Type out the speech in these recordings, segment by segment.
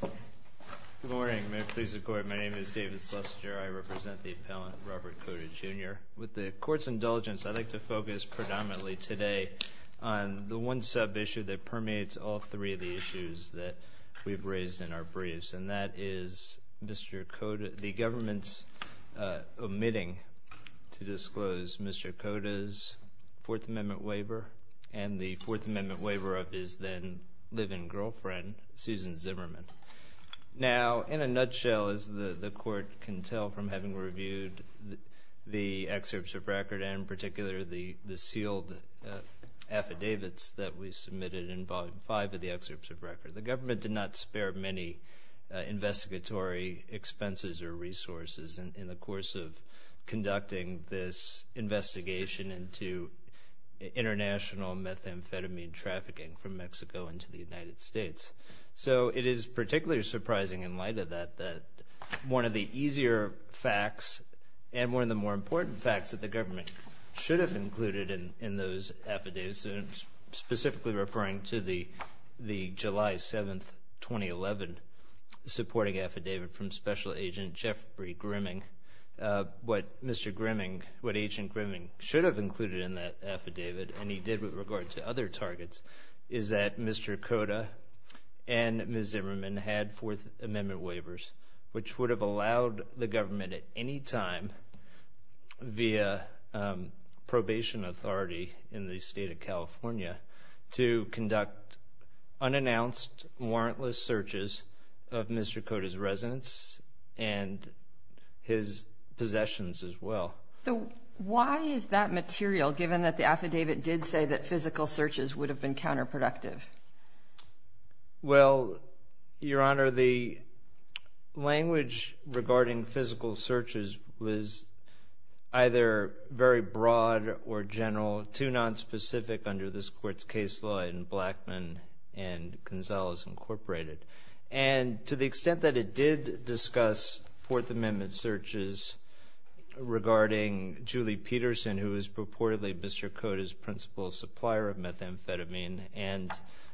Good morning. May it please the Court, my name is David Schlesinger. I represent the appellant Robert Cota, Jr. With the Court's indulgence, I'd like to focus predominantly today on the one sub-issue that permeates all three of the issues that we've raised in our briefs, and that is the government's omitting to disclose Mr. Cota's Fourth Amendment waiver, and the Fourth Amendment waiver of his then live-in girlfriend, Susan Zimmerman. Now, in a nutshell, as the Court can tell from having reviewed the excerpts of record, and in particular the sealed affidavits that we submitted in Volume 5 of the excerpts of record, the government did not spare many investigatory expenses or resources in the course of conducting this investigation into international methamphetamine trafficking from Mexico into the United States. So it is particularly surprising in light of that that one of the easier facts and one of the more important facts that the government should have included in those affidavits, and I'm specifically referring to the July 7, 2011, supporting affidavit from Special Agent Jeffrey Grimming, what Mr. Grimming, what Agent Grimming should have included in that affidavit, and he did with regard to other targets, is that Mr. Cota and Ms. Zimmerman had Fourth Amendment waivers, which would have allowed the government at any time via probation authority in the state of California to conduct unannounced warrantless searches of Mr. Cota's residence and his possessions as well. So why is that material, given that the affidavit did say that physical searches would have been counterproductive? Well, Your Honor, the language regarding physical searches was either very broad or general, too nonspecific under this Court's case law in Blackman and Gonzalez, Incorporated. And to the extent that it did discuss Fourth Amendment searches regarding Julie Peterson, who is purportedly Mr. Cota's principal supplier of methamphetamine, and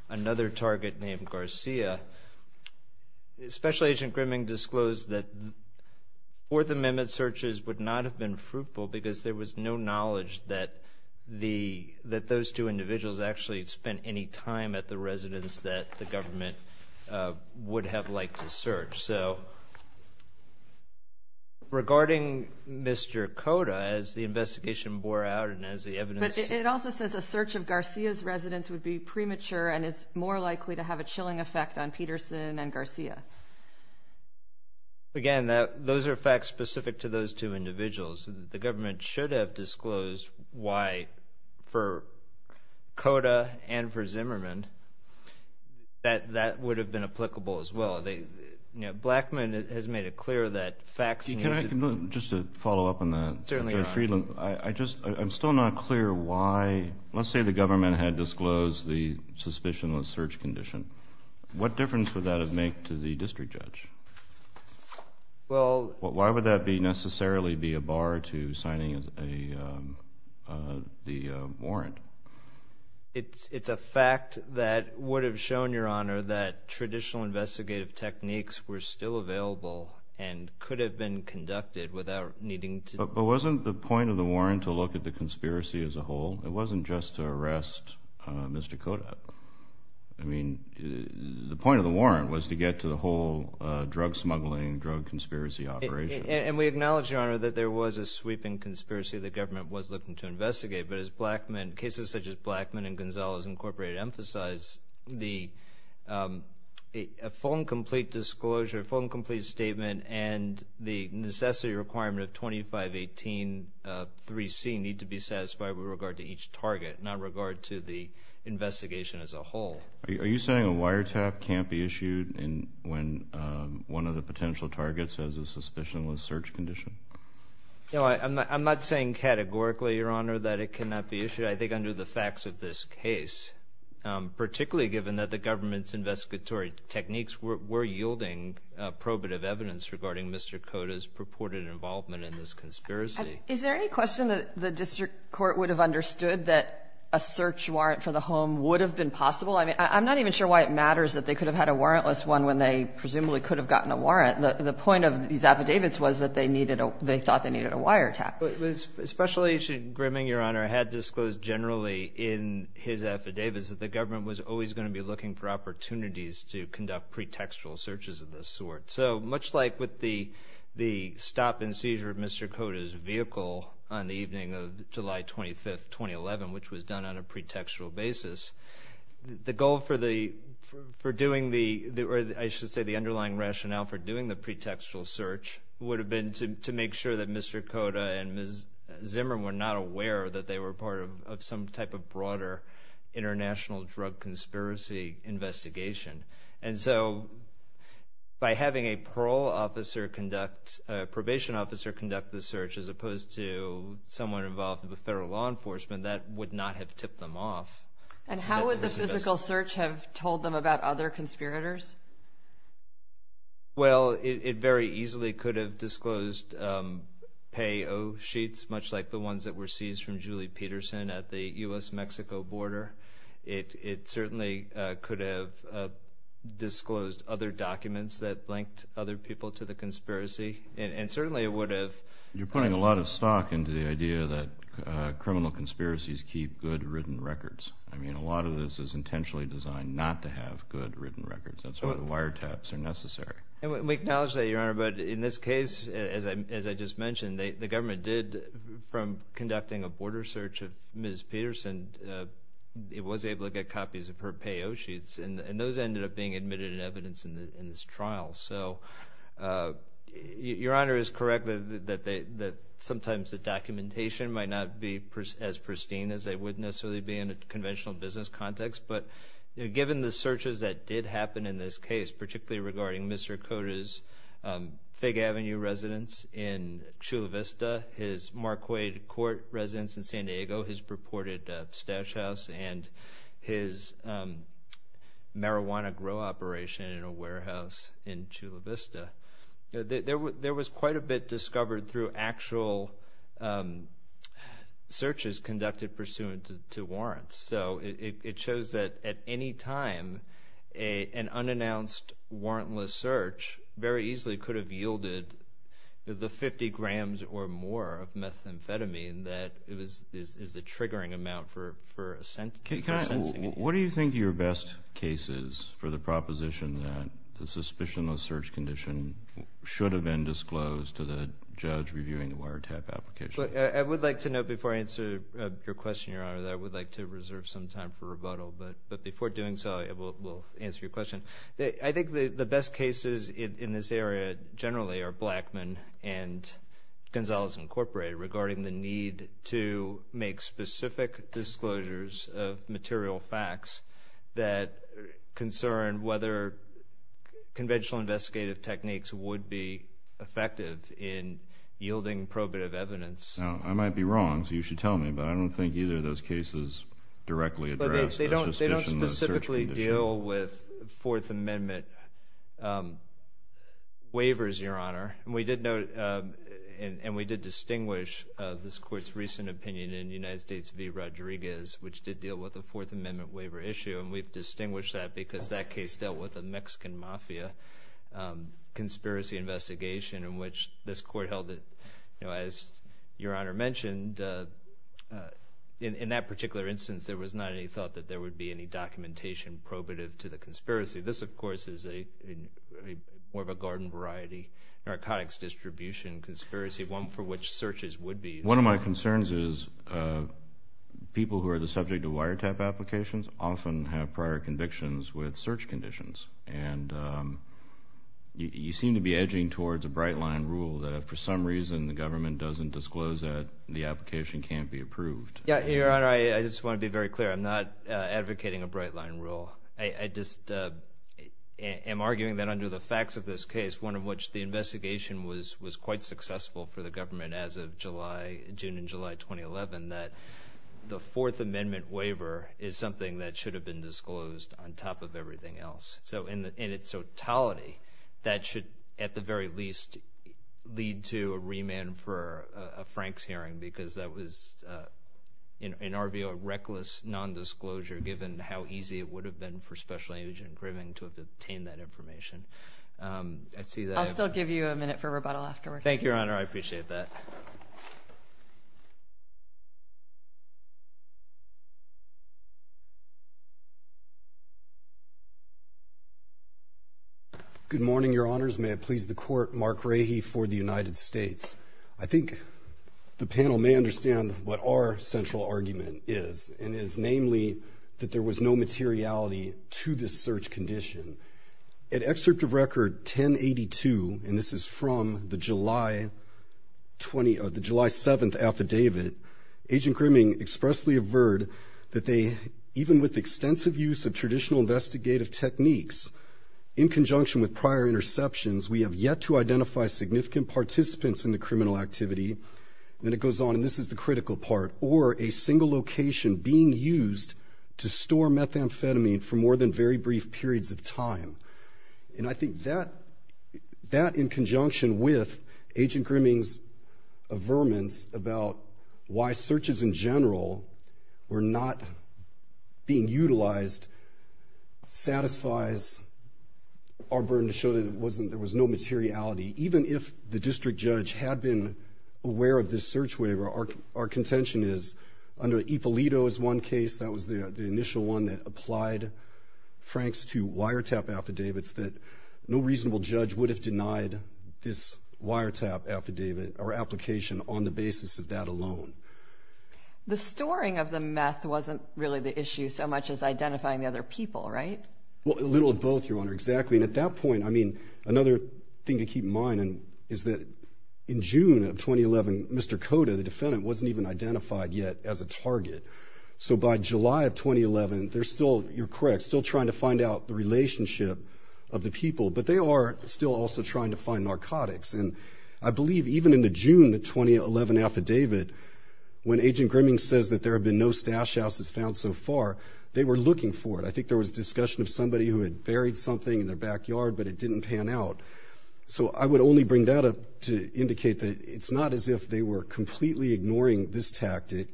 another target named Garcia, Special Agent Grimming disclosed that Fourth Amendment searches would not have been fruitful because there was no knowledge that those two individuals actually had spent any time at the residence that the government would have liked to search. So regarding Mr. Cota, as the investigation bore out and as the evidence – But it also says a search of Garcia's residence would be premature and is more likely to have a chilling effect on Peterson and Garcia. Again, those are facts specific to those two individuals. The government should have disclosed why for Cota and for Zimmerman that that would have been applicable as well. Blackman has made it clear that facts – Just to follow up on that, Judge Friedland, I'm still not clear why – let's say the government had disclosed the suspicionless search condition. What difference would that have made to the district judge? Well – Why would that necessarily be a bar to signing the warrant? It's a fact that would have shown, Your Honor, that traditional investigative techniques were still available and could have been conducted without needing to – But wasn't the point of the warrant to look at the conspiracy as a whole? It wasn't just to arrest Mr. Cota. I mean, the point of the warrant was to get to the whole drug smuggling, drug conspiracy operation. And we acknowledge, Your Honor, that there was a sweeping conspiracy the government was looking to investigate. But as Blackman – cases such as Blackman and Gonzales Incorporated emphasize, the full and complete disclosure, full and complete statement, and the necessity requirement of 25183C need to be satisfied with regard to each target, not regard to the investigation as a whole. Are you saying a wiretap can't be issued when one of the potential targets has a suspicionless search condition? No, I'm not saying categorically, Your Honor, that it cannot be issued. I think under the facts of this case, particularly given that the government's investigatory techniques were yielding probative evidence regarding Mr. Cota's purported involvement in this conspiracy. Is there any question that the district court would have understood that a search warrant for the home would have been possible? I mean, I'm not even sure why it matters that they could have had a warrantless one when they presumably could have gotten a warrant. The point of these affidavits was that they needed a – they thought they needed a wiretap. But Special Agent Grimming, Your Honor, had disclosed generally in his affidavits that the government was always going to be looking for opportunities to conduct pretextual searches of this sort. So much like with the stop and seizure of Mr. Cota's vehicle on the evening of July 25, 2011, which was done on a pretextual basis, the goal for the – for doing the – or I should say the underlying rationale for doing the pretextual search would have been to make sure that Mr. Cota and Ms. Zimmer were not aware that they were part of some type of broader international drug conspiracy investigation. And so by having a parole officer conduct – probation officer conduct the search as opposed to someone involved with the federal law enforcement, that would not have tipped them off. And how would the physical search have told them about other conspirators? Well, it very easily could have disclosed pay-o sheets, much like the ones that were seized from Julie Peterson at the U.S.-Mexico border. It certainly could have disclosed other documents that linked other people to the conspiracy. And certainly it would have – You're putting a lot of stock into the idea that criminal conspiracies keep good written records. I mean, a lot of this is intentionally designed not to have good written records. That's why the wiretaps are necessary. And we acknowledge that, Your Honor, but in this case, as I just mentioned, the government did – from conducting a border search of Ms. Peterson, it was able to get copies of her pay-o sheets, and those ended up being admitted in evidence in this trial. So Your Honor is correct that sometimes the documentation might not be as pristine as they would necessarily be in a conventional business context. But given the searches that did happen in this case, particularly regarding Mr. Cota's Fig Avenue residence in Chula Vista, his Marquardt Court residence in San Diego, his purported stash house, and his marijuana grow operation in a warehouse in Chula Vista, there was quite a bit discovered through actual searches conducted pursuant to warrants. So it shows that at any time an unannounced warrantless search very easily could have yielded the 50 grams or more of methamphetamine that is the triggering amount for a sentencing. What do you think your best case is for the proposition that the suspicionless search condition should have been disclosed to the judge reviewing the wiretap application? Your Honor, I would like to reserve some time for rebuttal. But before doing so, we'll answer your question. I think the best cases in this area generally are Blackman and Gonzalez Incorporated regarding the need to make specific disclosures of material facts that concern whether conventional investigative techniques would be effective in yielding probative evidence. Now, I might be wrong, so you should tell me, but I don't think either of those cases directly address the suspicionless search condition. But they don't specifically deal with Fourth Amendment waivers, Your Honor. And we did distinguish this Court's recent opinion in United States v. Rodriguez, which did deal with a Fourth Amendment waiver issue, and we've distinguished that because that case dealt with a Mexican mafia conspiracy investigation in which this Court held that, as Your Honor mentioned, in that particular instance, there was not any thought that there would be any documentation probative to the conspiracy. This, of course, is more of a garden-variety narcotics distribution conspiracy, one for which searches would be useful. One of my concerns is people who are the subject of wiretap applications often have prior convictions with search conditions. And you seem to be edging towards a bright-line rule that if for some reason the government doesn't disclose that, the application can't be approved. Yeah, Your Honor, I just want to be very clear. I'm not advocating a bright-line rule. I just am arguing that under the facts of this case, one of which the investigation was quite successful for the government as of June and July 2011, that the Fourth Amendment waiver is something that should have been disclosed on top of everything else. So in its totality, that should at the very least lead to a remand for a Franks hearing because that was, in our view, a reckless nondisclosure given how easy it would have been for Special Agent Grimming to have obtained that information. I'll still give you a minute for rebuttal afterwards. Thank you, Your Honor. I appreciate that. Good morning, Your Honors. May it please the Court, Mark Rahe for the United States. I think the panel may understand what our central argument is, and it is namely that there was no materiality to this search condition. At Excerpt of Record 1082, and this is from the July 7th affidavit, Agent Grimming expressly averred that they, even with extensive use of traditional investigative techniques, in conjunction with prior interceptions, we have yet to identify significant participants in the criminal activity, and it goes on, and this is the critical part, or a single location being used to store methamphetamine for more than very brief periods of time. And I think that in conjunction with Agent Grimming's averments about why searches in general were not being utilized satisfies our burden to show that there was no materiality. Even if the district judge had been aware of this search waiver, our contention is under Ippolito's one case, that was the initial one that applied Franks to wiretap affidavits, that no reasonable judge would have denied this wiretap affidavit or application on the basis of that alone. The storing of the meth wasn't really the issue so much as identifying the other people, right? Well, a little of both, Your Honor, exactly. And at that point, I mean, another thing to keep in mind is that in June of 2011, Mr. Cota, the defendant, wasn't even identified yet as a target. So by July of 2011, they're still, you're correct, still trying to find out the relationship of the people, but they are still also trying to find narcotics. And I believe even in the June 2011 affidavit, when Agent Grimming says that there have been no stash houses found so far, they were looking for it. I think there was discussion of somebody who had buried something in their backyard, but it didn't pan out. So I would only bring that up to indicate that it's not as if they were completely ignoring this tactic.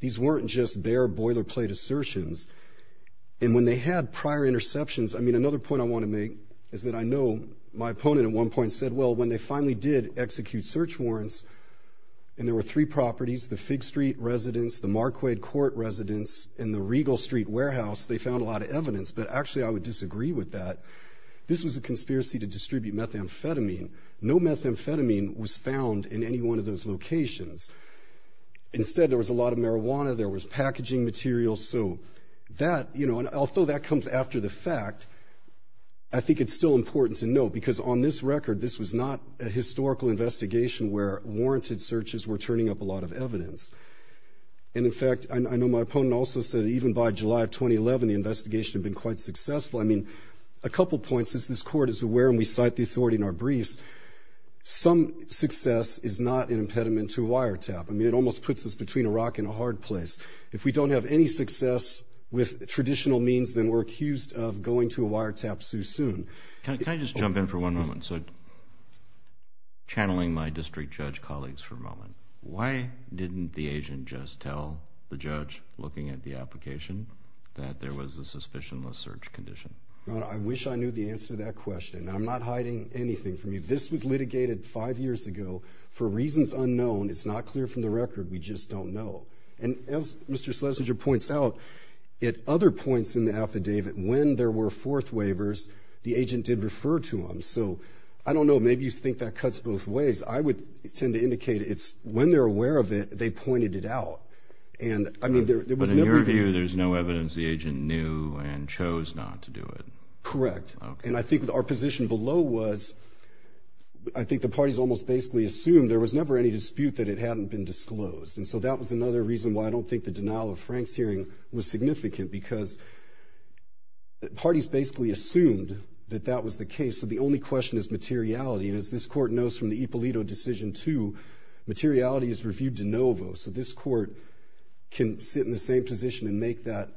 These weren't just bare boilerplate assertions. And when they had prior interceptions, I mean, another point I want to make is that I know my opponent at one point said, well, when they finally did execute search warrants and there were three properties, the Fig Street residence, the Marquardt Court residence, and the Regal Street warehouse, they found a lot of evidence. But actually, I would disagree with that. This was a conspiracy to distribute methamphetamine. No methamphetamine was found in any one of those locations. Instead, there was a lot of marijuana. There was packaging material. So that, you know, and although that comes after the fact, I think it's still important to note, because on this record, this was not a historical investigation where warranted searches were turning up a lot of evidence. And, in fact, I know my opponent also said that even by July of 2011, the investigation had been quite successful. I mean, a couple points. As this Court is aware, and we cite the authority in our briefs, some success is not an impediment to a wiretap. I mean, it almost puts us between a rock and a hard place. If we don't have any success with traditional means, then we're accused of going to a wiretap too soon. Can I just jump in for one moment? So channeling my district judge colleagues for a moment, why didn't the agent just tell the judge looking at the application that there was a suspicionless search condition? I wish I knew the answer to that question. I'm not hiding anything from you. This was litigated five years ago for reasons unknown. It's not clear from the record. We just don't know. And as Mr. Schlesinger points out, at other points in the affidavit, when there were fourth waivers, the agent did refer to them. So I don't know, maybe you think that cuts both ways. I would tend to indicate it's when they're aware of it, they pointed it out. But in your view, there's no evidence the agent knew and chose not to do it. Correct. And I think our position below was I think the parties almost basically assumed there was never any dispute that it hadn't been disclosed. And so that was another reason why I don't think the denial of Frank's hearing was significant because parties basically assumed that that was the case. So the only question is materiality. And as this court knows from the Ippolito decision too, materiality is reviewed de novo. So this court can sit in the same position and make that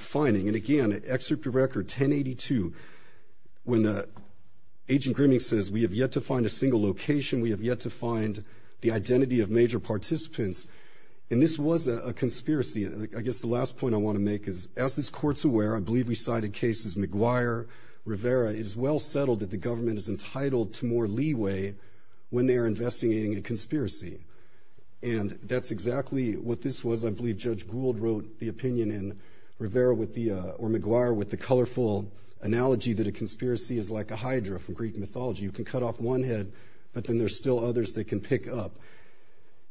finding. And again, Excerpt of Record 1082, when Agent Grimming says, we have yet to find a single location. We have yet to find the identity of major participants. And this was a conspiracy. I guess the last point I want to make is as this court's aware, I believe we cited cases McGuire, Rivera. It is well settled that the government is entitled to more leeway when they are investigating a conspiracy. And that's exactly what this was. I believe Judge Gould wrote the opinion in Rivera or McGuire with the colorful analogy that a conspiracy is like a hydra from Greek mythology. You can cut off one head, but then there's still others that can pick up.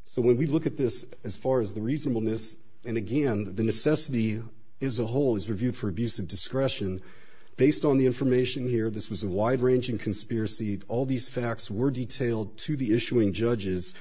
So when we look at this as far as the reasonableness, and again, the necessity as a whole is reviewed for abusive discretion. Based on the information here, this was a wide-ranging conspiracy. All these facts were detailed to the issuing judges.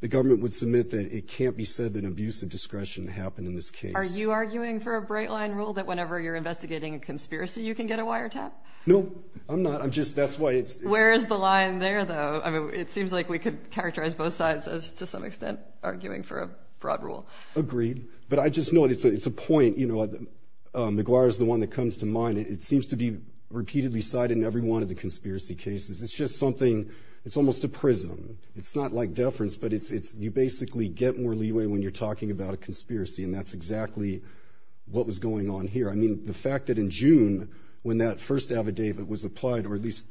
The government would submit that it can't be said that abusive discretion happened in this case. Are you arguing for a bright line rule that whenever you're investigating a conspiracy, you can get a wiretap? No, I'm not. Where is the line there, though? It seems like we could characterize both sides as to some extent arguing for a broad rule. Agreed. But I just know it's a point. McGuire is the one that comes to mind. It seems to be repeatedly cited in every one of the conspiracy cases. It's just something. It's almost a prism. It's not like deference, but you basically get more leeway when you're talking about a conspiracy, and that's exactly what was going on here. I mean, the fact that in June, when that first affidavit was applied, or at least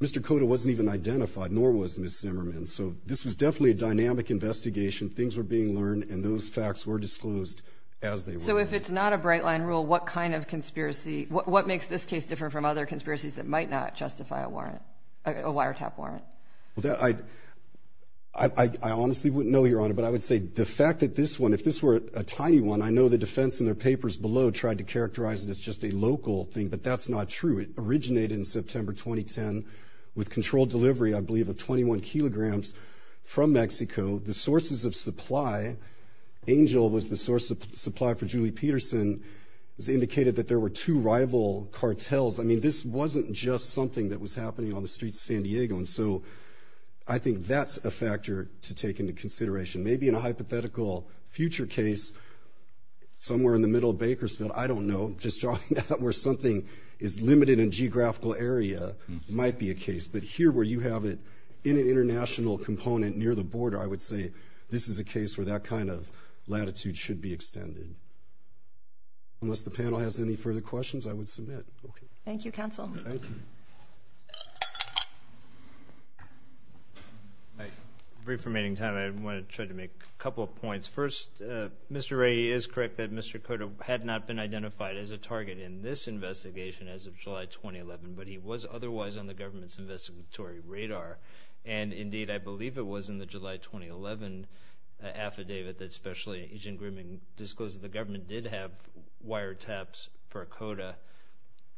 Mr. Cota wasn't even identified, nor was Ms. Zimmerman. So this was definitely a dynamic investigation. Things were being learned, and those facts were disclosed as they were. So if it's not a bright line rule, what kind of conspiracy? What makes this case different from other conspiracies that might not justify a wiretap warrant? I honestly wouldn't know, Your Honor, but I would say the fact that this one, if this were a tiny one, I know the defense in their papers below tried to characterize it as just a local thing, but that's not true. It originated in September 2010 with controlled delivery, I believe, of 21 kilograms from Mexico. The sources of supply, Angel was the source of supply for Julie Peterson, indicated that there were two rival cartels. I mean, this wasn't just something that was happening on the streets of San Diego, and so I think that's a factor to take into consideration. Maybe in a hypothetical future case somewhere in the middle of Bakersfield, I don't know. Just drawing that where something is limited in geographical area might be a case, but here where you have it in an international component near the border, I would say this is a case where that kind of latitude should be extended. Unless the panel has any further questions, I would submit. Thank you, counsel. Thank you. Brief remaining time. I want to try to make a couple of points. First, Mr. Wray is correct that Mr. Cotto had not been identified as a target in this investigation as of July 2011, but he was otherwise on the government's investigatory radar, and indeed I believe it was in the July 2011 affidavit that Special Agent Grimming disclosed that the government did have wiretaps for Cotto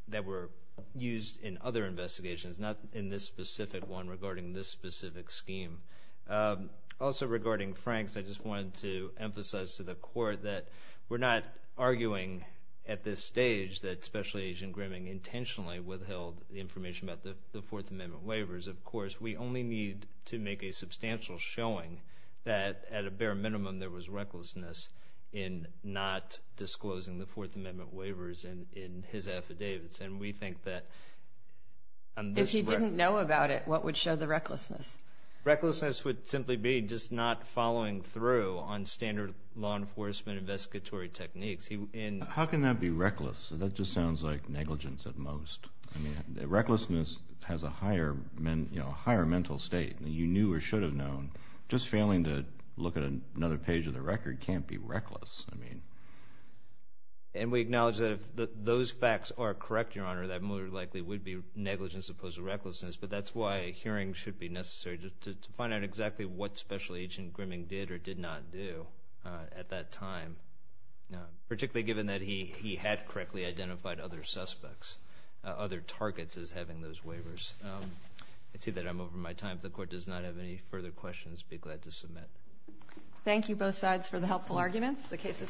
that were used in other investigations, not in this specific one regarding this specific scheme. Also regarding Franks, I just wanted to emphasize to the court that we're not arguing at this stage that Special Agent Grimming intentionally withheld the information about the Fourth Amendment waivers. Of course, we only need to make a substantial showing that at a bare minimum there was recklessness in not disclosing the Fourth Amendment waivers in his affidavits, and we think that on this record. If he didn't know about it, what would show the recklessness? Recklessness would simply be just not following through on standard law enforcement investigatory techniques. How can that be reckless? That just sounds like negligence at most. I mean, recklessness has a higher mental state. You knew or should have known. Just failing to look at another page of the record can't be reckless. And we acknowledge that if those facts are correct, Your Honor, that more than likely would be negligence as opposed to recklessness, but that's why a hearing should be necessary to find out exactly what Special Agent Grimming did or did not do at that time, particularly given that he had correctly identified other suspects, other targets as having those waivers. I see that I'm over my time. If the Court does not have any further questions, be glad to submit. Thank you, both sides, for the helpful arguments. The case is submitted.